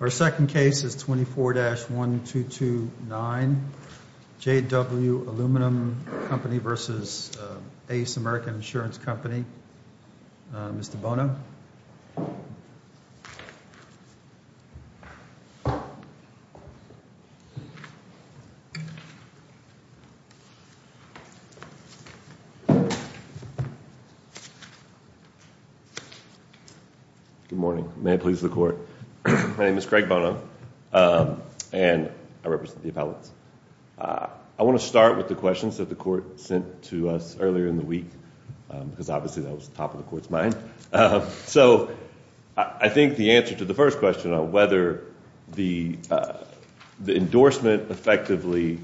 Our second case is 24-1229, J.W. Aluminum Company v. ACE American Insurance Company. Mr. Bono? Good morning. May it please the Court. My name is Craig Bono, and I represent the appellants. I want to start with the questions that the Court sent to us earlier in the week, because obviously that was top of the Court's mind. So I think the answer to the first question on whether the endorsement effectively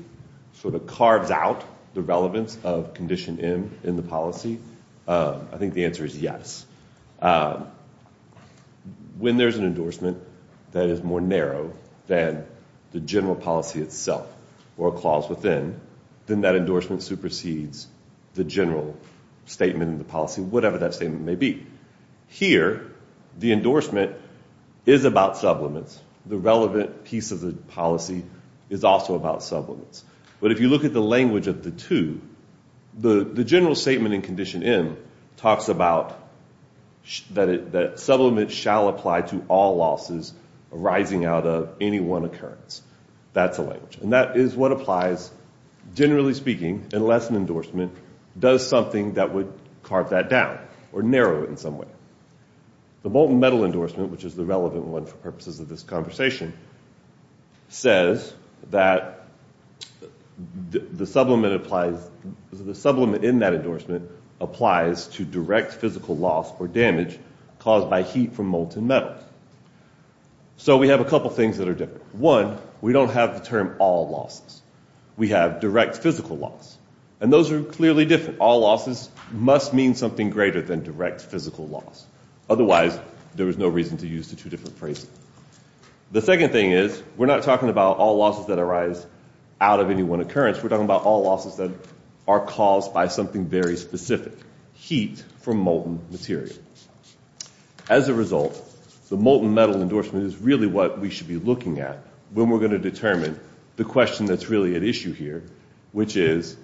sort of carves out the relevance of Condition M in the policy, I think the answer is yes. When there's an endorsement that is more narrow than the general policy itself or a clause within, then that endorsement supersedes the general statement in the policy, whatever that statement may be. Here, the endorsement is about sublimates. The relevant piece of the policy is also about sublimates. But if you look at the language of the two, the general statement in Condition M talks about that sublimates shall apply to all losses arising out of any one occurrence. That's the language. And that is what applies, generally speaking, unless an endorsement does something that would carve that down or narrow it in some way. The molten metal endorsement, which is the relevant one for purposes of this conversation, says that the sublimate in that endorsement applies to direct physical loss or damage caused by heat from molten metal. So we have a couple of things that are different. One, we don't have the term all losses. We have direct physical loss. And those are clearly different. All losses must mean something greater than direct physical loss. Otherwise, there is no reason to use the two different phrases. The second thing is we're not talking about all losses that arise out of any one occurrence. We're talking about all losses that are caused by something very specific, heat from molten material. As a result, the molten metal endorsement is really what we should be looking at when we're going to determine the question that's really at issue here, which is,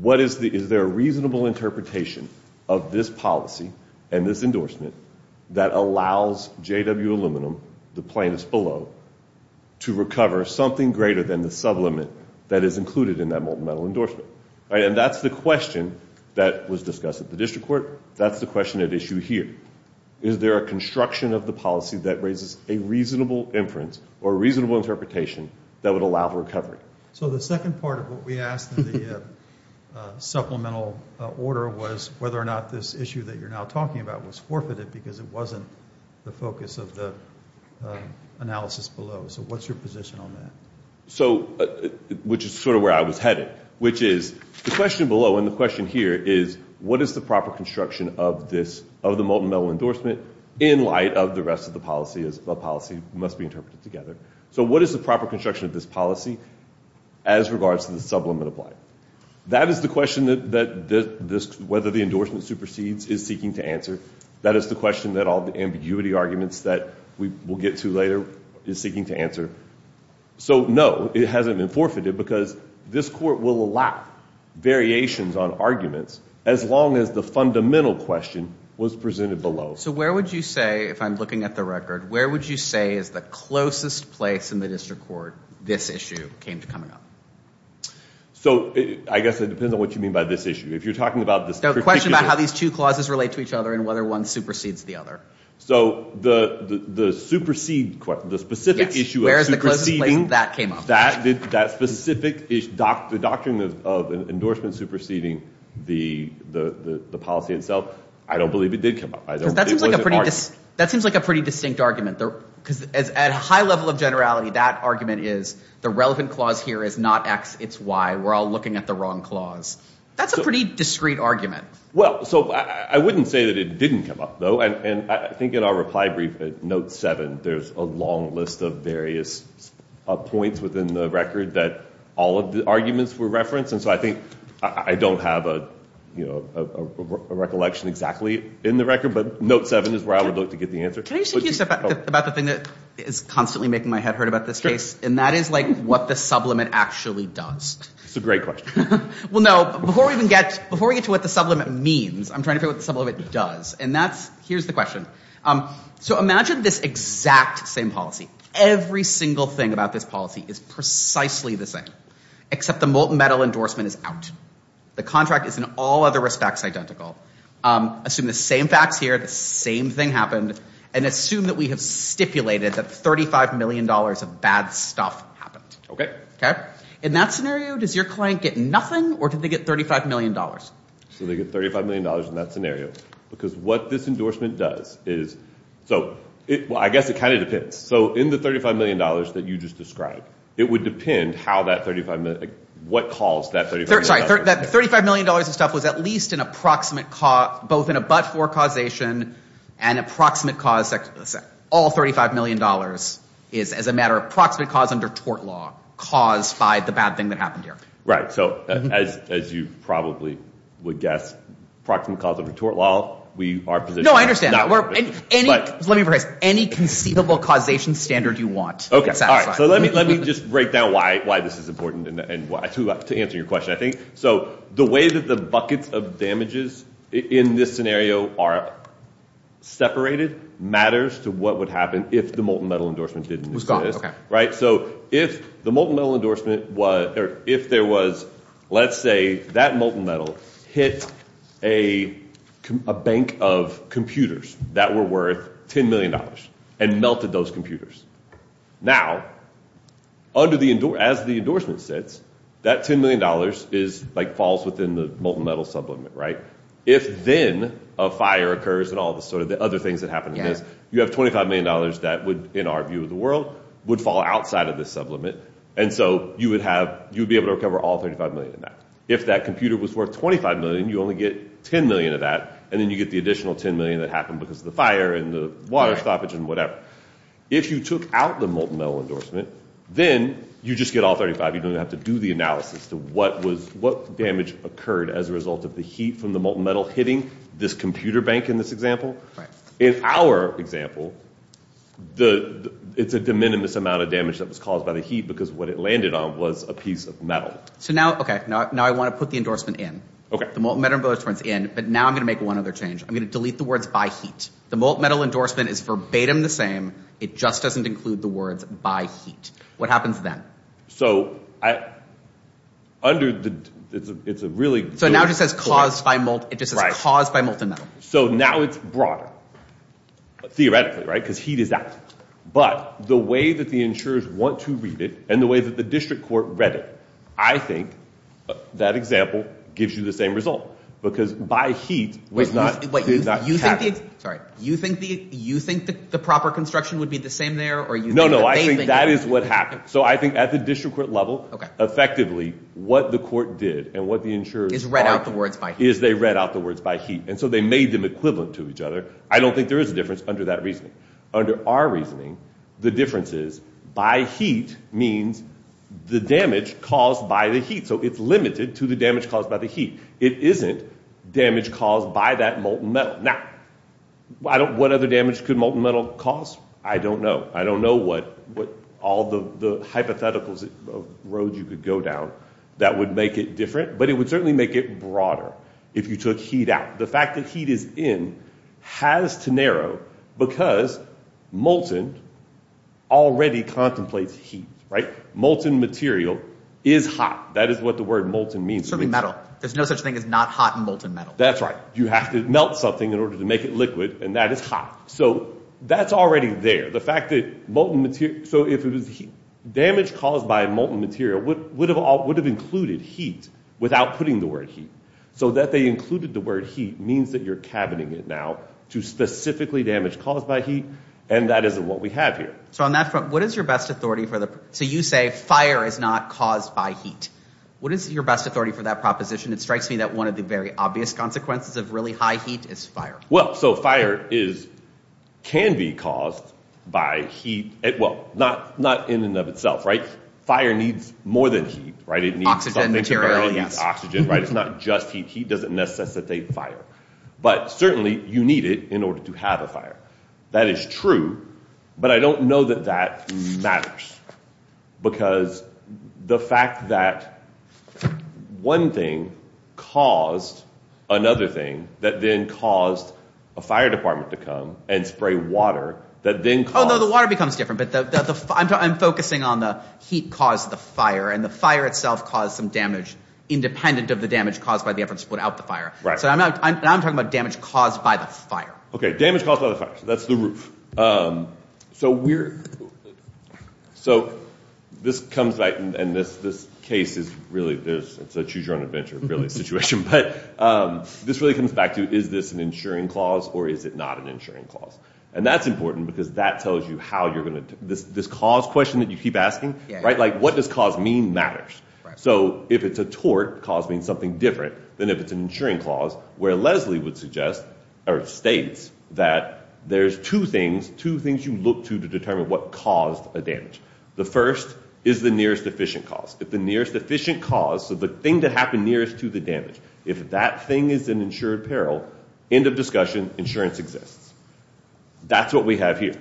what is the – is there a reasonable interpretation of this policy and this endorsement that allows JW Aluminum, the plaintiffs below, to recover something greater than the sublimate that is included in that molten metal endorsement? And that's the question that was discussed at the district court. That's the question at issue here. Is there a construction of the policy that raises a reasonable inference or a reasonable interpretation that would allow for recovery? So the second part of what we asked in the supplemental order was whether or not this issue that you're now talking about was forfeited because it wasn't the focus of the analysis below. So what's your position on that? So – which is sort of where I was headed, which is, the question below and the question here is, what is the proper construction of this – of the molten metal endorsement in light of the rest of the policy as a policy must be interpreted together? So what is the proper construction of this policy as regards to the sublimate applied? That is the question that this – whether the endorsement supersedes is seeking to answer. That is the question that all the ambiguity arguments that we will get to later is seeking to answer. So no, it hasn't been forfeited because this court will allow variations on arguments as long as the fundamental question was presented below. So where would you say, if I'm looking at the record, where would you say is the closest place in the district court this issue came to coming up? So I guess it depends on what you mean by this issue. If you're talking about this No, the question about how these two clauses relate to each other and whether one supersedes the other. So the supersede question, the specific issue of superseding, that specific issue, the doctrine of endorsement superseding the policy itself, I don't believe it did come up. That seems like a pretty distinct argument. Because at a high level of generality, that argument is the relevant clause here is not X, it's Y. We're all looking at the wrong clause. That's a pretty discreet argument. Well, so I wouldn't say that it didn't come up, though. And I think in our reply brief at note seven, there's a long list of various points within the record that all of the arguments were referenced. And so I think I don't have a recollection exactly in the record, but note seven is where I would look to get the answer. Can I just say a few things about the thing that is constantly making my head hurt about this case? And that is like what the sublimate actually does. It's a great question. Well, no. Before we get to what the sublimate means, I'm trying to figure out what the sublimate does. And that's, here's the question. So imagine this exact same policy. Every single thing about this policy is precisely the same, except the molten metal endorsement is out. The contract is in all other respects identical. Assume the same facts here, the same thing happened, and assume that we have stipulated that $35 million of bad stuff happened. Okay. Okay. In that scenario, does your client get nothing, or did they get $35 million? So they get $35 million in that scenario. Because what this endorsement does is, so I guess it kind of depends. So in the $35 million that you just described, it would depend how that $35 million, what caused that $35 million. Sorry, that $35 million of stuff was at least an approximate, both in a but-for causation and approximate cause, all $35 million is as a matter of approximate cause under tort law caused by the bad thing that happened here. Right. So as you probably would guess, approximate cause under tort law, we are positioned to No, I understand that. Let me rephrase. Any conceivable causation standard you want. Okay. All right. So let me just break down why this is important and to answer your question, I think. So the way that the buckets of damages in this scenario are separated matters to what would happen if the molten metal endorsement didn't exist. Was gone. Okay. Right. So if the molten metal endorsement, or if there was, let's say that molten metal hit a bank of computers that were worth $10 million and melted those computers. Now, as the endorsement sits, that $10 million falls within the molten metal sublimate, right? If then a fire occurs and all the other things that happen in this, you have $25 million that would, in our view of the world, would fall outside of this sublimate. And so you would have, you'd be able to recover all $35 million in that. If that computer was worth $25 million, you only get $10 million of that. And then you get the additional $10 million that happened because of the fire and the water stoppage and whatever. If you took out the molten metal endorsement, then you just get all $35 million. You don't even have to do the analysis to what was, what damage occurred as a result of the heat from the molten metal hitting this computer bank in this example. In our example, it's a de minimis amount of damage that was caused by the heat because what it landed on was a piece of metal. So now, okay, now I want to put the endorsement in. The molten metal endorsement's in, but now I'm going to make one other change. I'm going to delete the words by heat. The molten metal endorsement is verbatim the same. It just doesn't include the words by heat. What happens then? So under the, it's a really- So now it just says caused by molten, it just says caused by molten metal. So now it's broader. Theoretically, right? Because heat is out. But the way that the insurers want to read it and the way that the district court read it, I think that example gives you the same result. Because by heat was not, did not happen. Sorry. You think the, you think that the proper construction would be the same there or you think that they think- So I think at the district court level, effectively what the court did and what the insurers- Is read out the words by heat. Is they read out the words by heat. And so they made them equivalent to each other. I don't think there is a difference under that reasoning. Under our reasoning, the difference is by heat means the damage caused by the heat. So it's limited to the damage caused by the heat. It isn't damage caused by that molten metal. Now, what other damage could molten metal cause? I don't know. I don't know what all the hypotheticals of roads you could go down that would make it different, but it would certainly make it broader if you took heat out. The fact that heat is in has to narrow because molten already contemplates heat, right? Molten material is hot. That is what the word molten means to me. Something metal. There's no such thing as not hot and molten metal. That's right. You have to melt something in order to make it liquid, and that is hot. So that's already there. The fact that molten material- So if it was heat, damage caused by molten material would have included heat without putting the word heat. So that they included the word heat means that you're cabining it now to specifically damage caused by heat, and that isn't what we have here. So on that front, what is your best authority for the- So you say fire is not caused by heat. What is your best authority for that proposition? It strikes me that one of the very obvious consequences of really high heat is fire. Well, so fire is- can be caused by heat. Well, not in and of itself, right? Fire needs more than heat, right? It needs something- Oxygen, material, yes. Oxygen, right? It's not just heat. Heat doesn't necessitate fire, but certainly you need it in order to have a fire. That is true, but I don't know that that matters because the fact that one thing caused another thing that then caused a fire department to come and spray water that then caused- Oh, no. The water becomes different, but I'm focusing on the heat caused the fire, and the fire itself caused some damage independent of the damage caused by the effort to put out the fire. Right. So now I'm talking about damage caused by the fire. Okay, damage caused by the fire. That's the roof. So we're- so this comes back, and this case is really- it's a choose-your-own-adventure, really, situation, but this really comes back to is this an insuring clause or is it not an insuring clause? And that's important because that tells you how you're going to- this cause question that you keep asking, right? Like what does cause mean matters. So if it's a tort, cause means something different than if it's an insuring clause, where Leslie would suggest or states that there's two things- two things you look to to determine what caused a damage. The first is the nearest efficient cause. If the nearest efficient cause, so the thing that happened nearest to the damage, if that thing is an insured peril, end of discussion, insurance exists. That's what we have here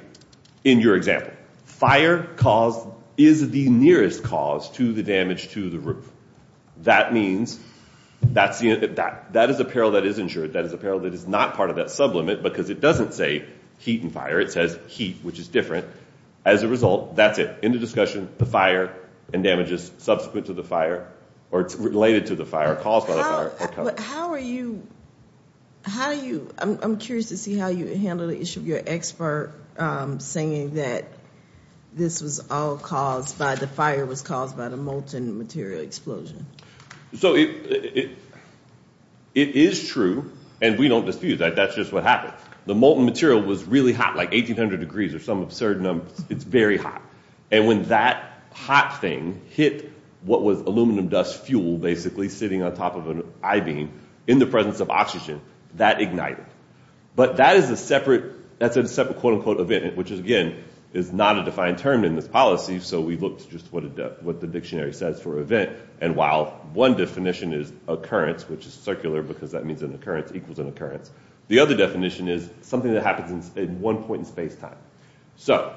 in your example. Fire cause is the nearest cause to the damage to the roof. That means that's the- that is a peril that is insured. That is a peril that is not part of that sublimit because it doesn't say heat and fire. It says heat, which is different. As a result, that's it. End of discussion. The fire and damages subsequent to the fire or related to the fire, caused by the fire. How are you- how do you- I'm curious to see how you handle the issue of your expert saying that this was all caused by- the fire was caused by the molten material explosion. So it- it is true, and we don't dispute that. That's just what happened. The molten material was really hot, like 1,800 degrees or some absurd number. It's very hot. And when that hot thing hit what was aluminum dust fuel, basically sitting on top of an I-beam, in the presence of oxygen, that ignited. But that is a separate- that's a separate quote of it, which is, again, is not a defined term in this policy. So we looked just what the dictionary says for event. And while one definition is occurrence, which is circular because that means an occurrence equals an occurrence, the other definition is something that happens in one point in spacetime. So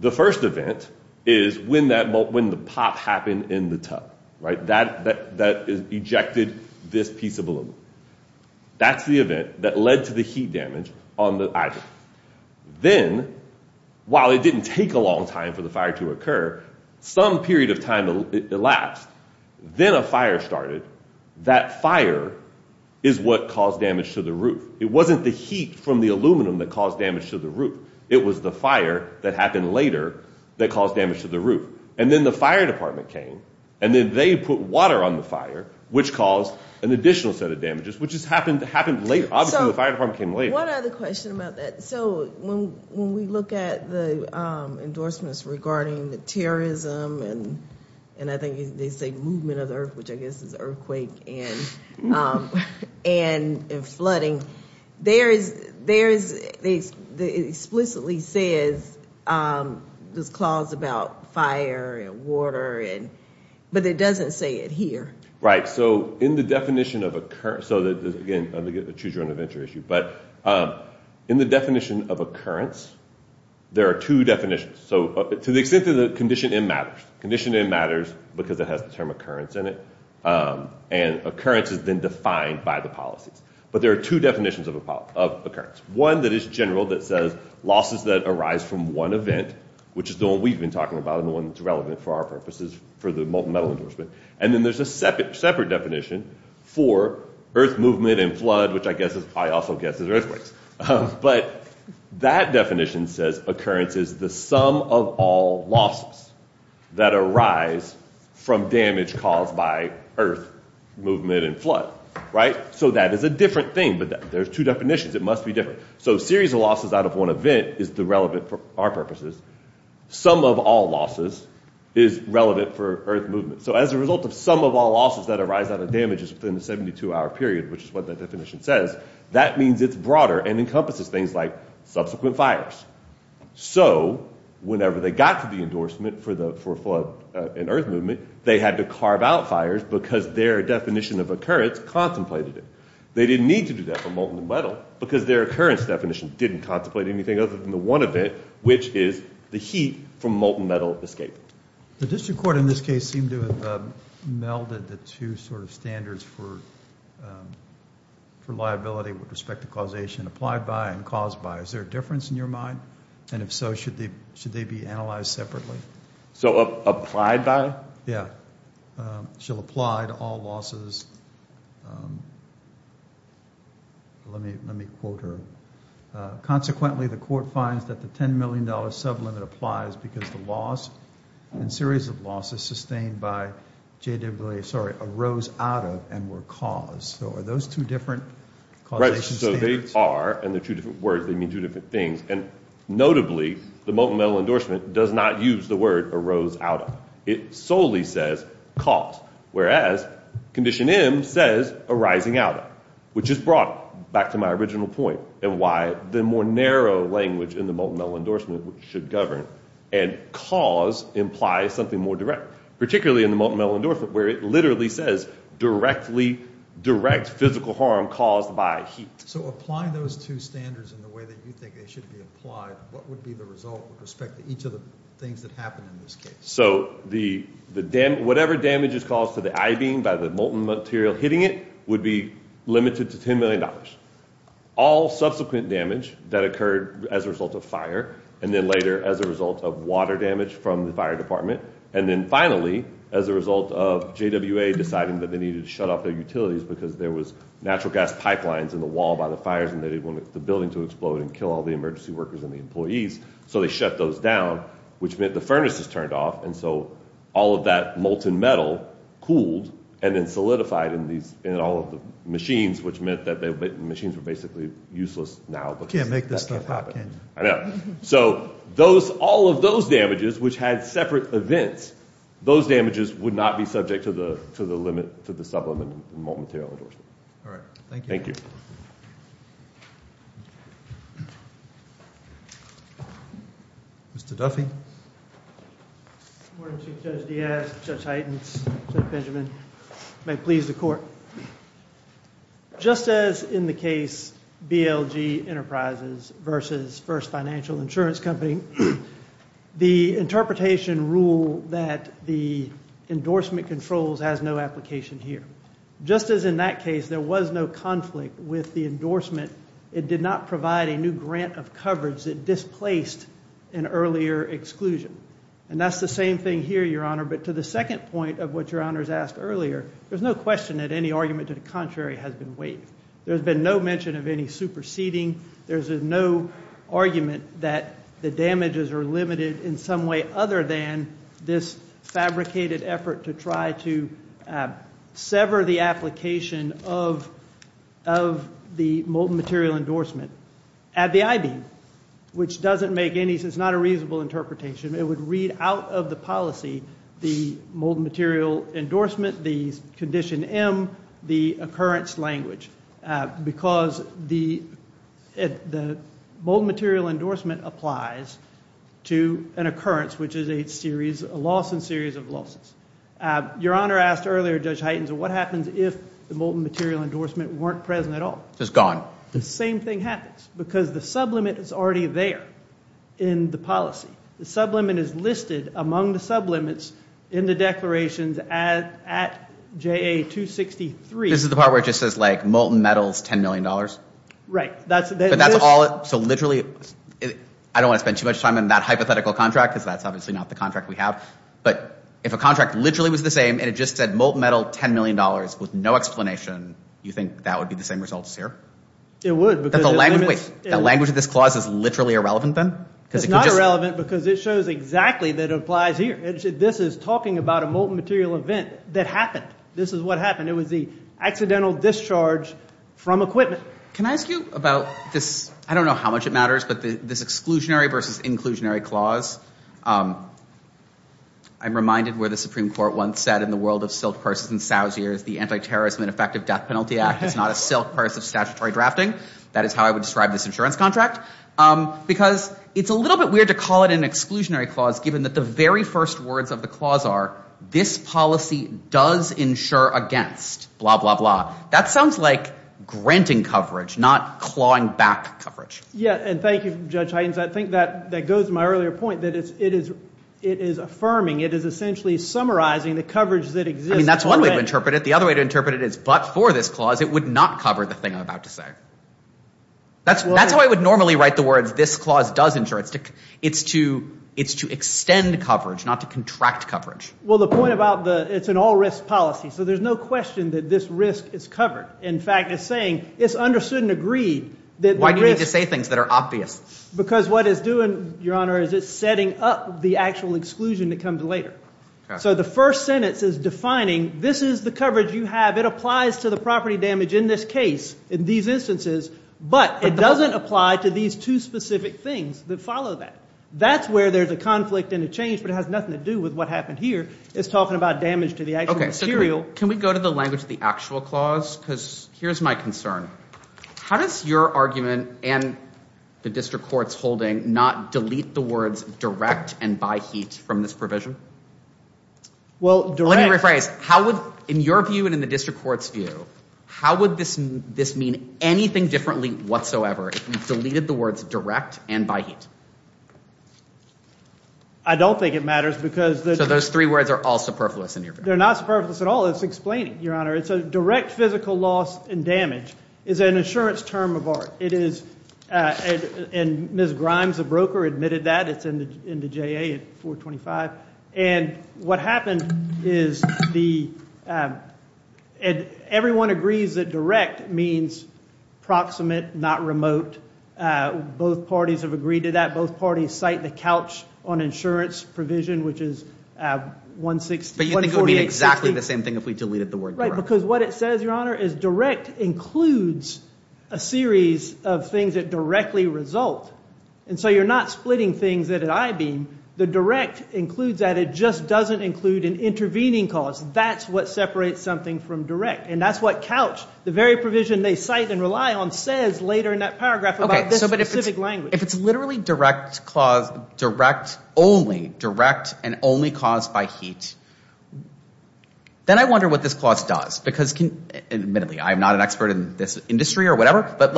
the first event is when that- when the pop happened in the tub, right? That- that is ejected this piece of aluminum. That's the event that led to the heat damage on the roof. And then, while it didn't take a long time for the fire to occur, some period of time elapsed. Then a fire started. That fire is what caused damage to the roof. It wasn't the heat from the aluminum that caused damage to the roof. It was the fire that happened later that caused damage to the roof. And then the fire department came, and then they put water on the fire, which caused an additional set of damages, which has happened- happened later. Obviously, the fire department came later. One other question about that. So when we look at the endorsements regarding the terrorism and I think they say movement of the earth, which I guess is earthquake and flooding, there is- there is- it explicitly says this clause about fire and water and- but it doesn't say it here. Right. So in the definition of- so again, I'm going to get the choose your own adventure issue. But in the definition of occurrence, there are two definitions. So to the extent that the condition in matters. Condition in matters because it has the term occurrence in it. And occurrence has been defined by the policies. But there are two definitions of- of occurrence. One that is general that says losses that arise from one event, which is the one we've been talking about and the one that's relevant for our purposes for the medal endorsement. And then there's a separate- separate definition for earth movement and flood, which I guess is- I also guess is earthquakes. But that definition says occurrence is the sum of all losses that arise from damage caused by earth movement and flood. Right. So that is a different thing. But there's two definitions. It must be different. So series of losses out of one event is the relevant for our purposes. Sum of all losses is relevant for earth movement movement. So as a result of sum of all losses that arise out of damages within the 72 hour period, which is what that definition says, that means it's broader and encompasses things like subsequent fires. So whenever they got to the endorsement for the- for flood and earth movement, they had to carve out fires because their definition of occurrence contemplated it. They didn't need to do that for molten metal because their occurrence definition didn't contemplate anything other than the one event, which is the heat from molten metal escape. The district court in this case seemed to have melded the two sort of standards for liability with respect to causation applied by and caused by. Is there a difference in your mind? And if so, should they- should they be analyzed separately? So applied by? Yeah. Shall apply to all losses. Let me- let me quote her. Consequently, the court finds that the $10 million sublimit applies because the loss and series of losses sustained by JWA, sorry, arose out of and were caused. So are those two different causation standards? Right. So they are, and they're two different words, they mean two different things. And notably, the molten metal endorsement does not use the word arose out of. It solely says caused. Whereas condition M says arising out of, which is brought back to my original point and why the more narrow language in the molten metal endorsement should govern and cause implies something more direct, particularly in the molten metal endorsement, where it literally says directly, direct physical harm caused by heat. So applying those two standards in the way that you think they should be applied, what would be the result with respect to each of the things that happened in this case? So the dam- whatever damage is caused to the I-beam by the molten material hitting it would be limited to $10 million. All subsequent damage that occurred as a result of fire, and then later as a result of water damage from the fire department. And then finally, as a result of JWA deciding that they needed to shut off their utilities because there was natural gas pipelines in the wall by the fires and they didn't want the building to explode and kill all the emergency workers and the employees. So they shut those down, which meant the furnace is turned off. And so all of that molten metal cooled and then solidified in all of the machines, which meant that the machines were basically useless now because that can't happen. You can't make this stuff happen. I know. So all of those damages, which had separate events, those damages would not be subject to the limit, to the subliminal molten material endorsement. All right. Thank you. Mr. Duffy. Good morning, Chief Judge Diaz, Judge Heitens, Judge Benjamin. May it please the court. Just as in the case BLG Enterprises versus First Financial Insurance Company, the interpretation rule that the endorsement controls has no application here. Just as in that case there was no conflict with the endorsement, it did not provide a new grant of coverage that displaced an earlier exclusion. And that's the same thing here, Your Honor. But to the second point of what Your Honor's asked earlier, there's no question that any argument to the contrary has been waived. There's been no mention of any superseding. There's no argument that the damages are limited in some way other than this fabricated effort to try to sever the application of the molten material endorsement at the I.B., which doesn't make any, it's not a reasonable interpretation. It would read out of the policy the molten material endorsement, the condition M, the occurrence language, because the molten material endorsement applies to an occurrence, which is a series, a loss in series of losses. Your Honor asked earlier, Judge Hytens, what happens if the molten material endorsement weren't present at all? It's just gone. The same thing happens because the sublimit is already there in the policy. The sublimit is listed among the sublimits in the declarations at J.A. 263. This is the part where it just says, like, molten metals, $10 million? Right. But that's all, so literally, I don't want to spend too much time on that hypothetical contract because that's obviously not the contract we have, but if a contract literally was the same and it just said, molten metal, $10 million, with no explanation, you think that would be the same results here? It would. But the language of this clause is literally irrelevant then? It's not irrelevant because it shows exactly that it applies here. This is talking about a molten material event that happened. This is what happened. It was the accidental discharge from equipment. Can I ask you about this, I don't know how much it matters, but this exclusionary versus inclusionary clause, I'm reminded where the Supreme Court once said, in the world of silk purses and sows, the Anti-Terrorism and Effective Death Penalty Act is not a silk purse of statutory drafting. That is how I would describe this insurance contract. Because it's a little bit weird to call it an exclusionary clause given that the very first words of the clause are, this policy does insure against, blah, blah, blah. That sounds like granting coverage, not clawing back coverage. Yeah, and thank you, Judge Hines. I think that goes to my earlier point that it is affirming, it is essentially summarizing the coverage that exists. I mean, that's one way to interpret it. The other way to interpret it is, but for this clause it would not cover the thing I'm about to say. That's how I would normally write the words, this clause does insure. It's to extend coverage, not to contract coverage. Well, the point about the, it's an all-risk policy, so there's no question that this risk is covered. In fact, it's saying, it's understood and agreed that the risk... Why do you need to say things that are obvious? Because what it's doing, Your Honor, is it's setting up the actual exclusion that comes later. So the first sentence is defining, this is the coverage you have, it applies to the property damage in this case, in these instances, but it doesn't apply to these two specific things that follow that. That's where there's a conflict and a change, but it has nothing to do with what happened here. It's talking about damage to the actual material. Can we go to the language of the actual clause? Because here's my concern. How does your argument and the district court's holding not delete the words direct and by heat from this provision? Well direct... Let me rephrase. In your view and in the district court's view, how would this mean anything differently whatsoever if we deleted the words direct and by heat? I don't think it matters because... So those three words are all superfluous in your view? They're not superfluous at all. It's explaining, Your Honor. It's a direct physical loss and damage. It's an insurance term of art. It is... And Ms. Grimes, a broker, admitted that. It's in the JA at 425. And what happened is the... Everyone agrees that direct means proximate, not remote. Both parties have agreed to that. Both parties cite the couch on insurance provision, which is 160... But you think it would mean exactly the same thing if we deleted the word direct? Because what it says, Your Honor, is direct includes a series of things that directly result. And so you're not splitting things at an I-beam. The direct includes that. It just doesn't include an intervening cause. That's what separates something from direct. And that's what couch, the very provision they cite and rely on, says later in that paragraph about this specific language. If it's literally direct only, direct and only caused by heat, then I wonder what this clause does. Because admittedly, I'm not an expert in this industry or whatever, but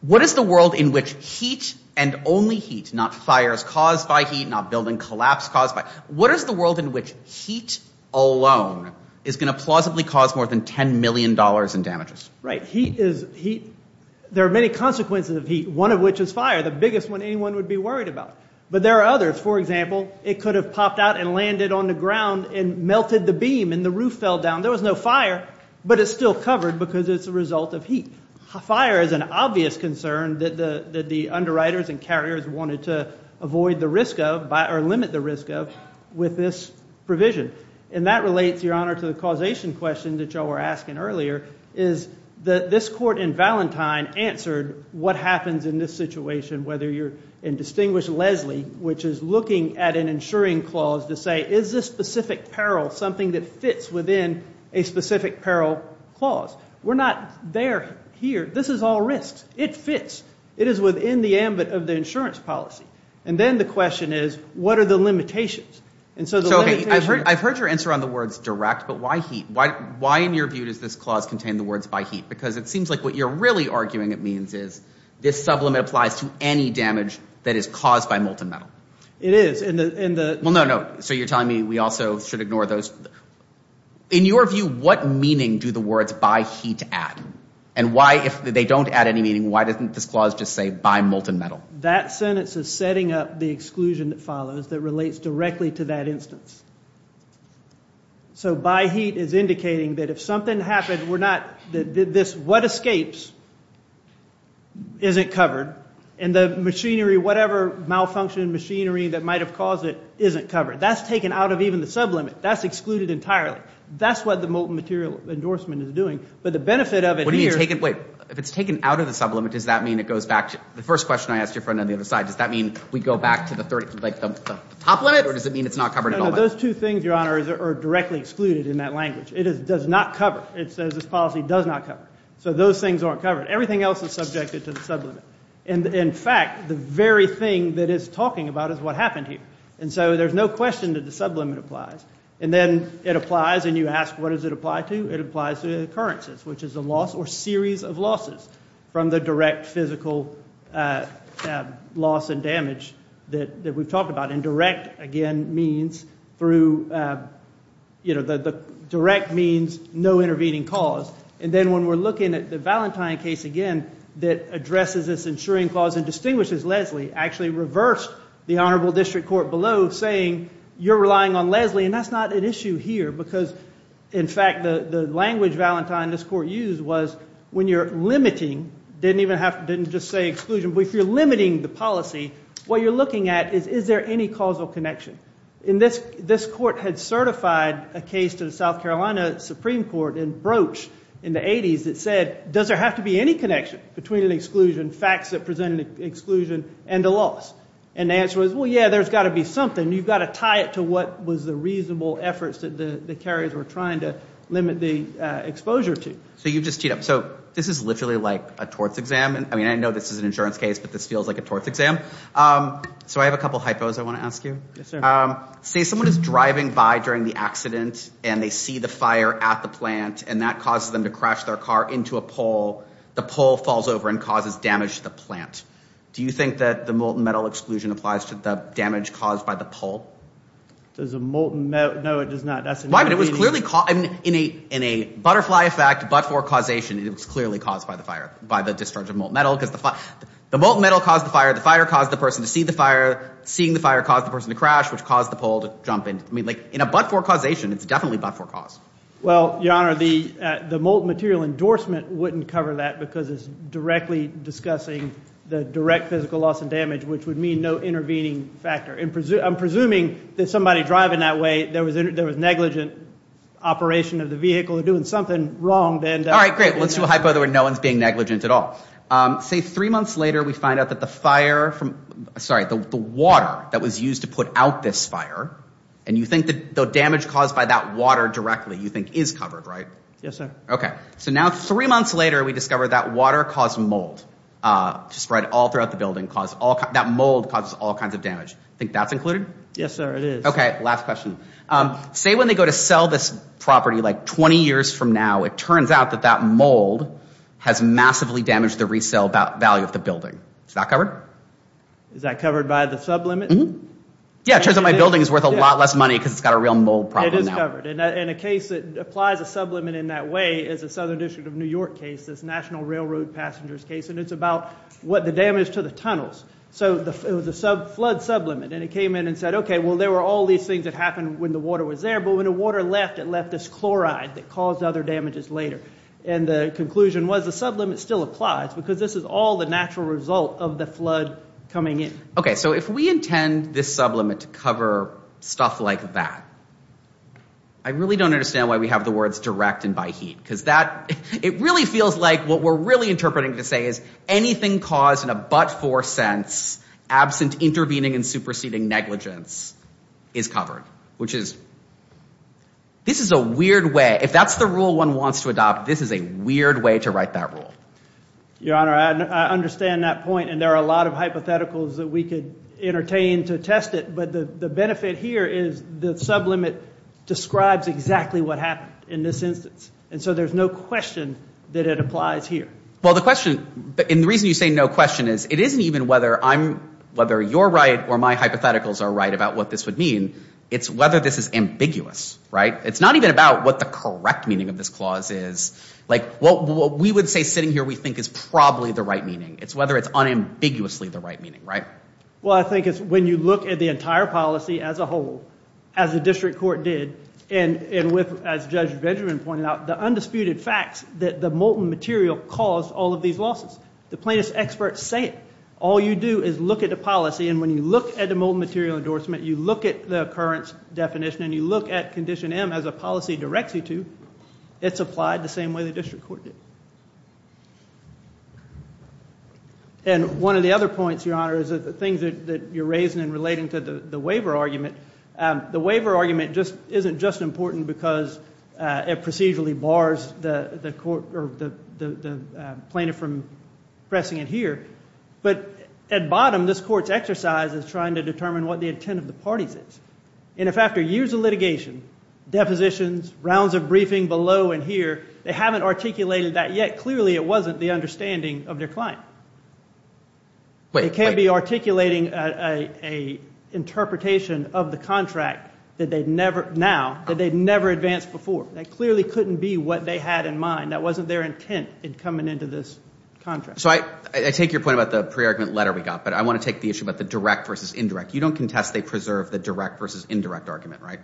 what is the world in which heat and only heat, not fires caused by heat, not building collapse caused by... What is the world in which heat alone is going to plausibly cause more than $10 million in damages? Right. Heat is... There are many consequences of heat, one of which is fire, the biggest one anyone would be worried about. But there are others. For example, it could have popped out and landed on the ground and melted the beam and the roof fell down. There was no fire, but it's still covered because it's a result of heat. Fire is an obvious concern that the underwriters and carriers wanted to avoid the risk of or limit the risk of with this provision. And that relates, Your Honor, to the causation question that you all were asking earlier, is that this court in Valentine answered what happens in this situation, whether you're in Distinguished Leslie, which is looking at an insuring clause to say, is this specific peril something that fits within a specific peril clause? We're not there here. This is all risks. It fits. It is within the ambit of the insurance policy. And then the question is, what are the limitations? And so the limitations... I've heard your answer on the words direct, but why heat? Why, in your view, does this clause contain the words by heat? Because it seems like what you're really arguing it means is this sublimate applies to any damage that is caused by molten metal. It is. And the... Well, no, no. So you're telling me we also should ignore those? In your view, what meaning do the words by heat add? And why, if they don't add any meaning, why doesn't this clause just say by molten metal? That sentence is setting up the exclusion that follows that relates directly to that instance. So by heat is indicating that if something happened, we're not... This what escapes isn't covered. And the machinery, whatever malfunction machinery that might have caused it, isn't covered. That's taken out of even the sublimate. That's excluded entirely. That's what the molten material endorsement is doing. But the benefit of it here... What do you mean taken... Wait. If it's taken out of the sublimate, does that mean it goes back to... The first question I asked your friend on the other side, does that mean we go back to the top limit? Or does it mean it's not covered at all? No, no. Those two things, Your Honor, are directly excluded in that language. It does not cover. It says this policy does not cover. So those things aren't covered. Everything else is subjected to the sublimate. And in fact, the very thing that it's talking about is what happened here. And so there's no question that the sublimate applies. And then it applies and you ask what does it apply to? It applies to occurrences, which is a loss or series of losses from the direct physical loss and damage that we've talked about. And direct again means through, you know, the direct means no intervening cause. And then when we're looking at the Valentine case again that addresses this insuring clause and distinguishes Leslie actually reversed the Honorable District Court below saying you're relying on Leslie and that's not an issue here. Because in fact, the language Valentine, this court used was when you're limiting, didn't even have to, didn't just say exclusion, but if you're limiting the policy, what you're looking at is is there any causal connection? And this court had certified a case to the South Carolina Supreme Court in Broach in the 80s that said does there have to be any connection between an exclusion, facts that present an exclusion, and a loss? And the answer was, well, yeah, there's got to be something. You've got to tie it to what was the reasonable efforts that the carriers were trying to limit the exposure to. So you've just teed up. So this is literally like a torts exam. I mean, I know this is an insurance case, but this feels like a torts exam. So I have a couple of hypos I want to ask you. Say someone is driving by during the accident and they see the fire at the plant and that causes them to crash their car into a pole. The pole falls over and causes damage to the plant. Do you think that the molten metal exclusion applies to the damage caused by the pole? Does a molten metal, no, it does not. That's a no. It was clearly in a butterfly effect, but for causation, it was clearly caused by the fire, by the discharge of molten metal. Because the molten metal caused the fire. The fire caused the person to see the fire. Seeing the fire caused the person to crash, which caused the pole to jump in. I mean, like in a but for causation, it's definitely but for cause. Well, Your Honor, the molten material endorsement wouldn't cover that because it's directly discussing the direct physical loss and damage, which would mean no intervening factor. I'm not saying that's a negligent operation of the vehicle. They're doing something wrong. All right, great. Let's do a hypo where no one is being negligent at all. Say three months later we find out that the water that was used to put out this fire, and you think the damage caused by that water directly, you think is covered, right? Yes, sir. Okay. So now three months later we discover that water caused mold to spread all throughout the building. That mold causes all kinds of damage. Do you think that's included? Yes, sir, it is. Okay. Last question. Say when they go to sell this property like 20 years from now, it turns out that that mold has massively damaged the resale value of the building. Is that covered? Is that covered by the sublimit? Yeah, it turns out my building is worth a lot less money because it's got a real mold problem now. It is covered. And a case that applies a sublimit in that way is the Southern District of New York case, this National Railroad Passengers case, and it's about what the damage to the tunnels. So it was a flood sublimit, and it came in and said, okay, well, there were all these things that happened when the water was there, but when the water left, it left this chloride that caused other damages later. And the conclusion was the sublimit still applies because this is all the natural result of the flood coming in. Okay. So if we intend this sublimit to cover stuff like that, I really don't understand why we have the words direct and by heat, because that, it really feels like what we're really interpreting to say is anything caused in a but-for sense, absent intervening and superseding negligence, is covered, which is, this is a weird way, if that's the rule one wants to adopt, this is a weird way to write that rule. Your Honor, I understand that point, and there are a lot of hypotheticals that we could entertain to test it, but the benefit here is the sublimit describes exactly what happened in this instance, and so there's no question that it applies here. Well, the question, and the reason you say no question is, it isn't even whether I'm, whether you're right or my hypotheticals are right about what this would mean, it's whether this is ambiguous, right? It's not even about what the correct meaning of this clause is, like what we would say sitting here we think is probably the right meaning. It's whether it's unambiguously the right meaning, right? Well, I think it's when you look at the entire policy as a whole, as the district court did, and with, as Judge Benjamin pointed out, the undisputed facts that the molten material caused all of these losses. The plaintiff's experts say it. All you do is look at the policy, and when you look at the molten material endorsement, you look at the occurrence definition, and you look at Condition M as a policy directs you to, it's applied the same way the district court did. And one of the other points, Your Honor, is that the things that you're raising in relating to the waiver argument, the waiver argument isn't just important because it procedurally bars the plaintiff from pressing it here, but at bottom, this court's exercise is trying to determine what the intent of the parties is. And if after years of litigation, depositions, rounds of briefing below and here, they haven't articulated that yet, clearly it wasn't the understanding of their client. Wait, wait. It can't be articulating an interpretation of the contract that they'd never, now, that they'd never advanced before. That clearly couldn't be what they had in mind. That wasn't their intent in coming into this contract. So I take your point about the pre-argument letter we got, but I want to take the issue about the direct versus indirect. You don't contest they preserve the direct versus indirect argument, right?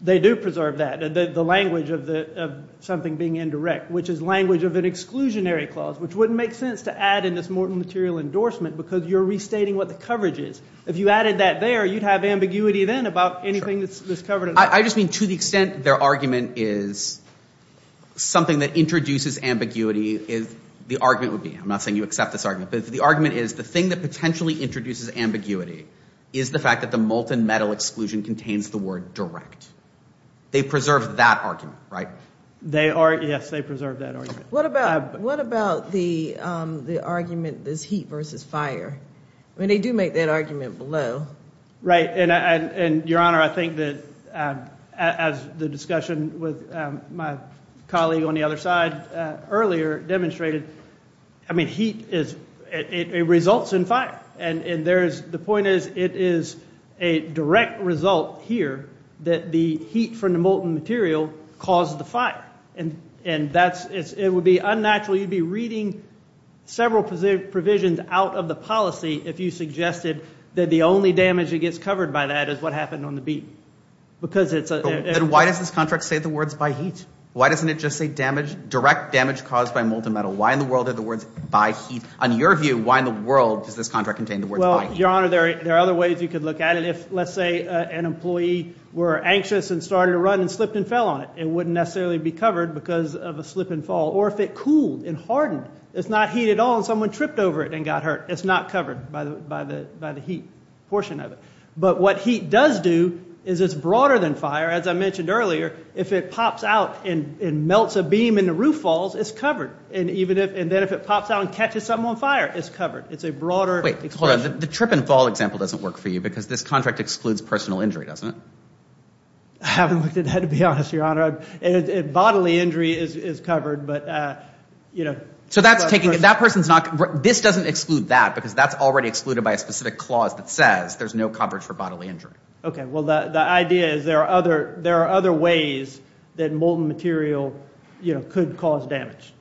They do preserve that, the language of the, of something being indirect, which is language of an exclusionary clause, which wouldn't make sense to add in this mortal material endorsement because you're restating what the coverage is. If you added that there, you'd have ambiguity then about anything that's covered in that. I just mean to the extent their argument is something that introduces ambiguity, the argument would be, I'm not saying you accept this argument, but the argument is the thing that potentially introduces ambiguity is the fact that the molten metal exclusion contains the word direct. They preserve that argument, right? They are, yes, they preserve that argument. What about, what about the argument, this heat versus fire? I mean, they do make that argument below. Right, and your honor, I think that as the discussion with my colleague on the other side earlier demonstrated, I mean, heat is, it results in fire. And there's, the point is, it is a direct result here that the heat from the molten material caused the fire. And that's, it would be unnatural, you'd be reading several provisions out of the policy if you suggested that the only damage that gets covered by that is what happened on the beat. Because it's a, Then why does this contract say the words by heat? Why doesn't it just say damage, direct damage caused by molten metal? Why in the world are the words by heat? On your view, why in the world does this contract contain the words by heat? Your honor, there are other ways you could look at it. If, let's say, an employee were anxious and started to run and slipped and fell on it, it wouldn't necessarily be covered because of a slip and fall. Or if it cooled and hardened. It's not heat at all and someone tripped over it and got hurt. It's not covered by the heat portion of it. But what heat does do is it's broader than fire. As I mentioned earlier, if it pops out and melts a beam and the roof falls, it's covered. And even if, and then if it pops out and catches something on fire, it's covered. It's a broader expression. Wait, hold on. The trip and fall example doesn't work for you because this contract excludes personal injury, doesn't it? I haven't looked at that, to be honest, your honor. Bodily injury is covered, but, you know. So that's taking, that person's not, this doesn't exclude that because that's already excluded by a specific clause that says there's no coverage for bodily injury. Okay. Well, the idea is there are other, there are other ways that molten material, you know, could cause damage.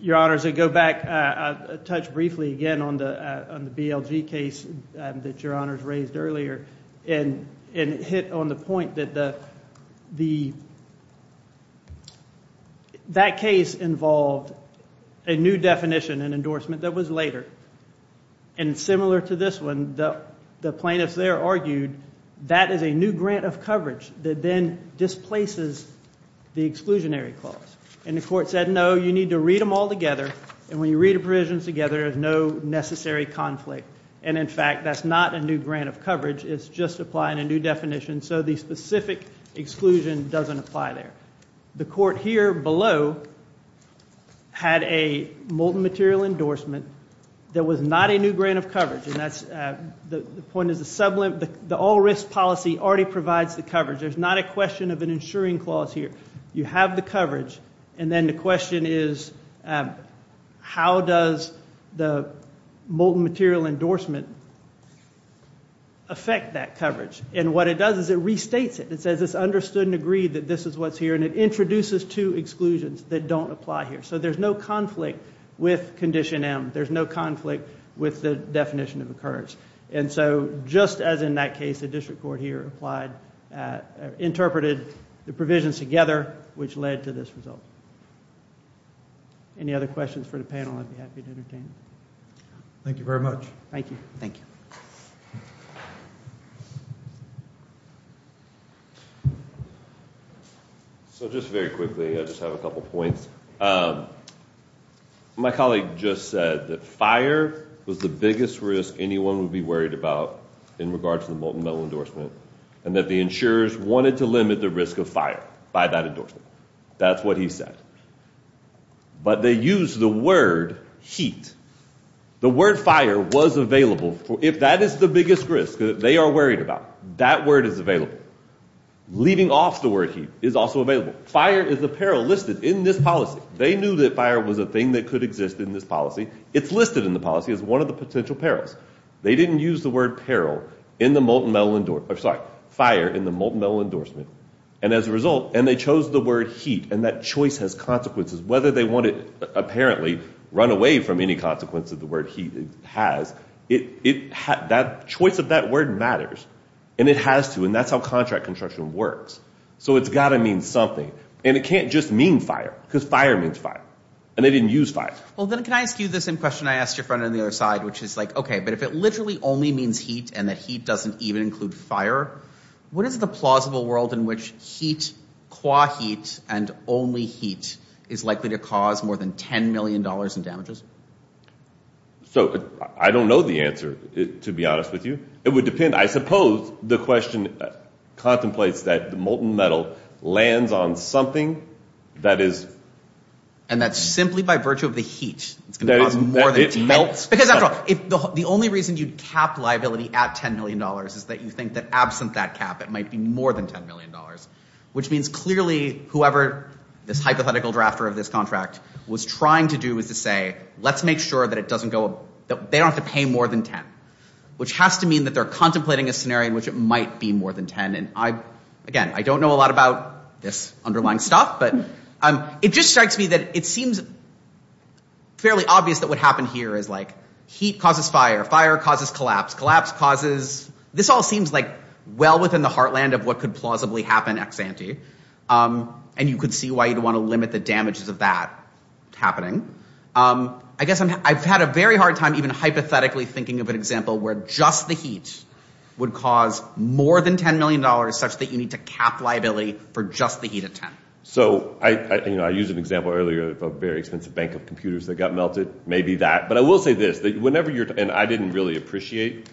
Your honor, as I go back, uh, touch briefly again on the, uh, on the BLG case, um, that your honors raised earlier and, and hit on the point that the, the, that case involved a new definition, an endorsement that was later. And similar to this one, the, the plaintiffs there argued that is a new grant of coverage that then displaces the exclusionary clause. And the court said, no, you need to read them all together. And when you read the provisions together, there's no necessary conflict. And in fact, that's not a new grant of coverage. It's just applying a new definition. So the specific exclusion doesn't apply there. The court here below had a molten material endorsement that was not a new grant of coverage. And that's, uh, the, the point is the sublim, the, the all risk policy already provides the coverage. There's not a question of an insuring clause here. You have the coverage. And then the question is, um, how does the molten material endorsement affect that coverage? And what it does is it restates it. It says it's understood and agreed that this is what's here. And it introduces two exclusions that don't apply here. So there's no conflict with condition M. There's no conflict with the definition of occurs. And so just as in that case, the district court here applied, uh, interpreted the provisions together, which led to this result. Any other questions for the panel? I'd be happy to entertain. Thank you very much. Thank you. Thank you. So just very quickly, I just have a couple of points. Um, my colleague just said that fire was the biggest risk anyone would be worried about in regards to the molten metal endorsement and that the insurers wanted to limit the risk of fire by that endorsement. That's what he said. But they use the word heat. The word fire was available. If that is the biggest risk that they are worried about, that word is available. Leaving off the word heat is also available. Fire is a peril listed in this policy. They knew that fire was a thing that could exist in this policy. It's listed in the policy as one of the potential perils. They didn't use the word peril in the molten metal endorsement, or sorry, fire in the molten metal endorsement. And as a result, and they chose the word heat, and that choice has consequences, whether they apparently run away from any consequence of the word heat, it has, the choice of that word matters. And it has to, and that's how contract construction works. So it's got to mean something. And it can't just mean fire, because fire means fire. And they didn't use fire. Well, then can I ask you the same question I asked your friend on the other side, which is like, okay, but if it literally only means heat and that heat doesn't even include fire, what is the plausible world in which heat, qua heat, and only heat is likely to cause more than $10 million in damages? So I don't know the answer, to be honest with you. It would depend. I suppose the question contemplates that the molten metal lands on something that is. And that's simply by virtue of the heat. It's going to cause more than 10. Because after all, the only reason you'd cap liability at $10 million is that you think that that cap, it might be more than $10 million, which means clearly whoever this hypothetical drafter of this contract was trying to do is to say, let's make sure that it doesn't go, that they don't have to pay more than 10, which has to mean that they're contemplating a scenario in which it might be more than 10. And I, again, I don't know a lot about this underlying stuff, but it just strikes me that it seems fairly obvious that what happened here is like heat causes fire, fire causes collapse, collapse causes, this all seems like well within the heartland of what could plausibly happen ex-ante. And you could see why you'd want to limit the damages of that happening. I guess I've had a very hard time even hypothetically thinking of an example where just the heat would cause more than $10 million such that you need to cap liability for just the heat at 10. So I use an example earlier of a very expensive bank of computers that got melted, maybe that, but I will say this, that whenever you're, and I didn't really appreciate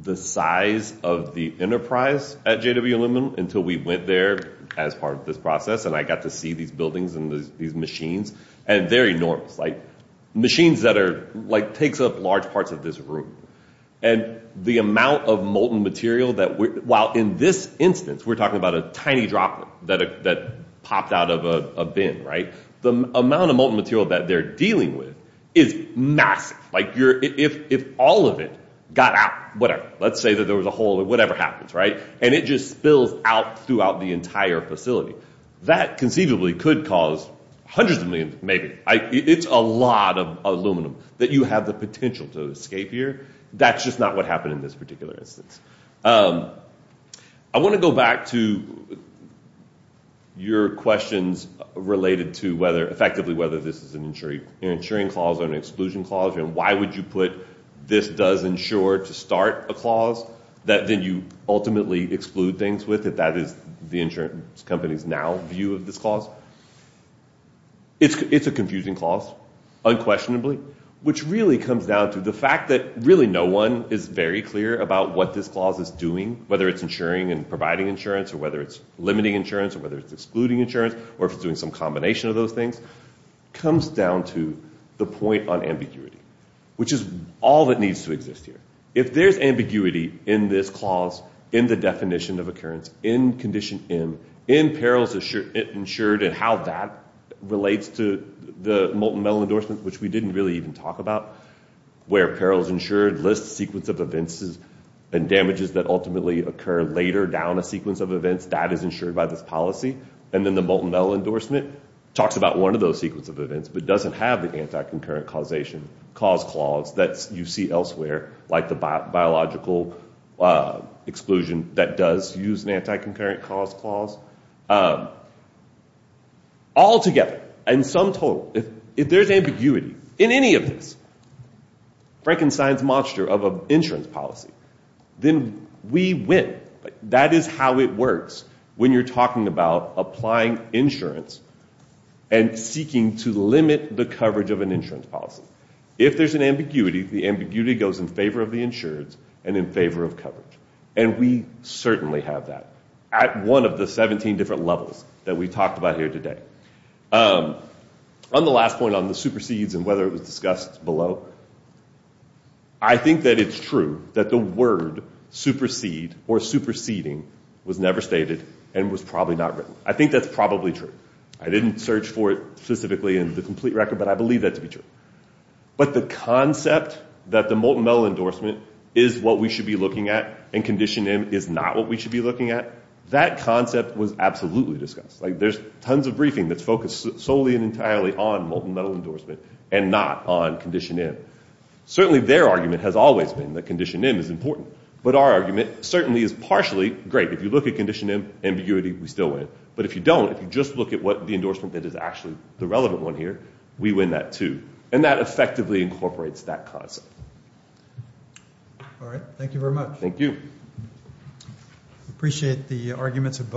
the size of the enterprise at JW Aluminum until we went there as part of this process and I got to see these buildings and these machines, and they're enormous, like machines that are, like takes up large parts of this room. And the amount of molten material that, while in this instance we're talking about a tiny droplet that popped out of a bin, right, the amount of molten material that they're dealing with is massive. Like you're, if all of it got out, whatever, let's say that there was a hole or whatever happens, right, and it just spills out throughout the entire facility, that conceivably could cause hundreds of millions, maybe. It's a lot of aluminum that you have the potential to escape here. That's just not what in this particular instance. I want to go back to your questions related to whether, effectively, whether this is an insuring clause or an exclusion clause, and why would you put this does insure to start a clause that then you ultimately exclude things with, if that is the insurance company's now view of this clause. It's a confusing clause, unquestionably, which really comes down to the fact that really no one is very clear about what this clause is doing, whether it's insuring and providing insurance, or whether it's limiting insurance, or whether it's excluding insurance, or if it's doing some combination of those things, comes down to the point on ambiguity, which is all that needs to exist here. If there's ambiguity in this clause, in the definition of occurrence, in condition M, in perils insured and how that relates to the molten metal endorsement, which we didn't really even talk about, where perils insured lists sequence of events and damages that ultimately occur later down a sequence of events, that is insured by this policy, and then the molten metal endorsement talks about one of those sequence of events, but doesn't have the anti-concurrent causation cause clause that you see elsewhere, like the biological exclusion that does use an all together, and sum total, if there's ambiguity in any of this, Frankenstein's monster of an insurance policy, then we win. That is how it works when you're talking about applying insurance and seeking to limit the coverage of an insurance policy. If there's an ambiguity, the ambiguity goes in favor of the insurance and in favor of coverage, and we certainly have that at one of the 17 different levels that we talked about here today. On the last point on the supersedes and whether it was discussed below, I think that it's true that the word supersede or superseding was never stated and was probably not written. I think that's probably true. I didn't search for it specifically in the complete record, but I believe that to be true. But the concept that the molten metal endorsement is what we should be looking at and Condition M is not what we should be looking at, that concept was absolutely discussed. There's tons of briefing that's focused solely and entirely on molten metal endorsement and not on Condition M. Certainly their argument has always been that Condition M is important, but our argument certainly is partially great. If you look at Condition M, ambiguity, we still win. But if you don't, if you just look at the endorsement that is actually the relevant one here, we win that too. And that effectively incorporates that concept. All right. Thank you very much. Thank you. Appreciate the arguments of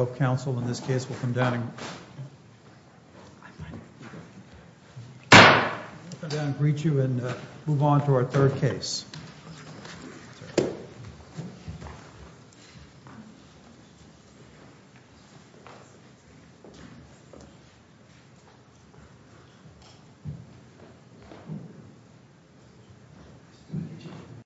both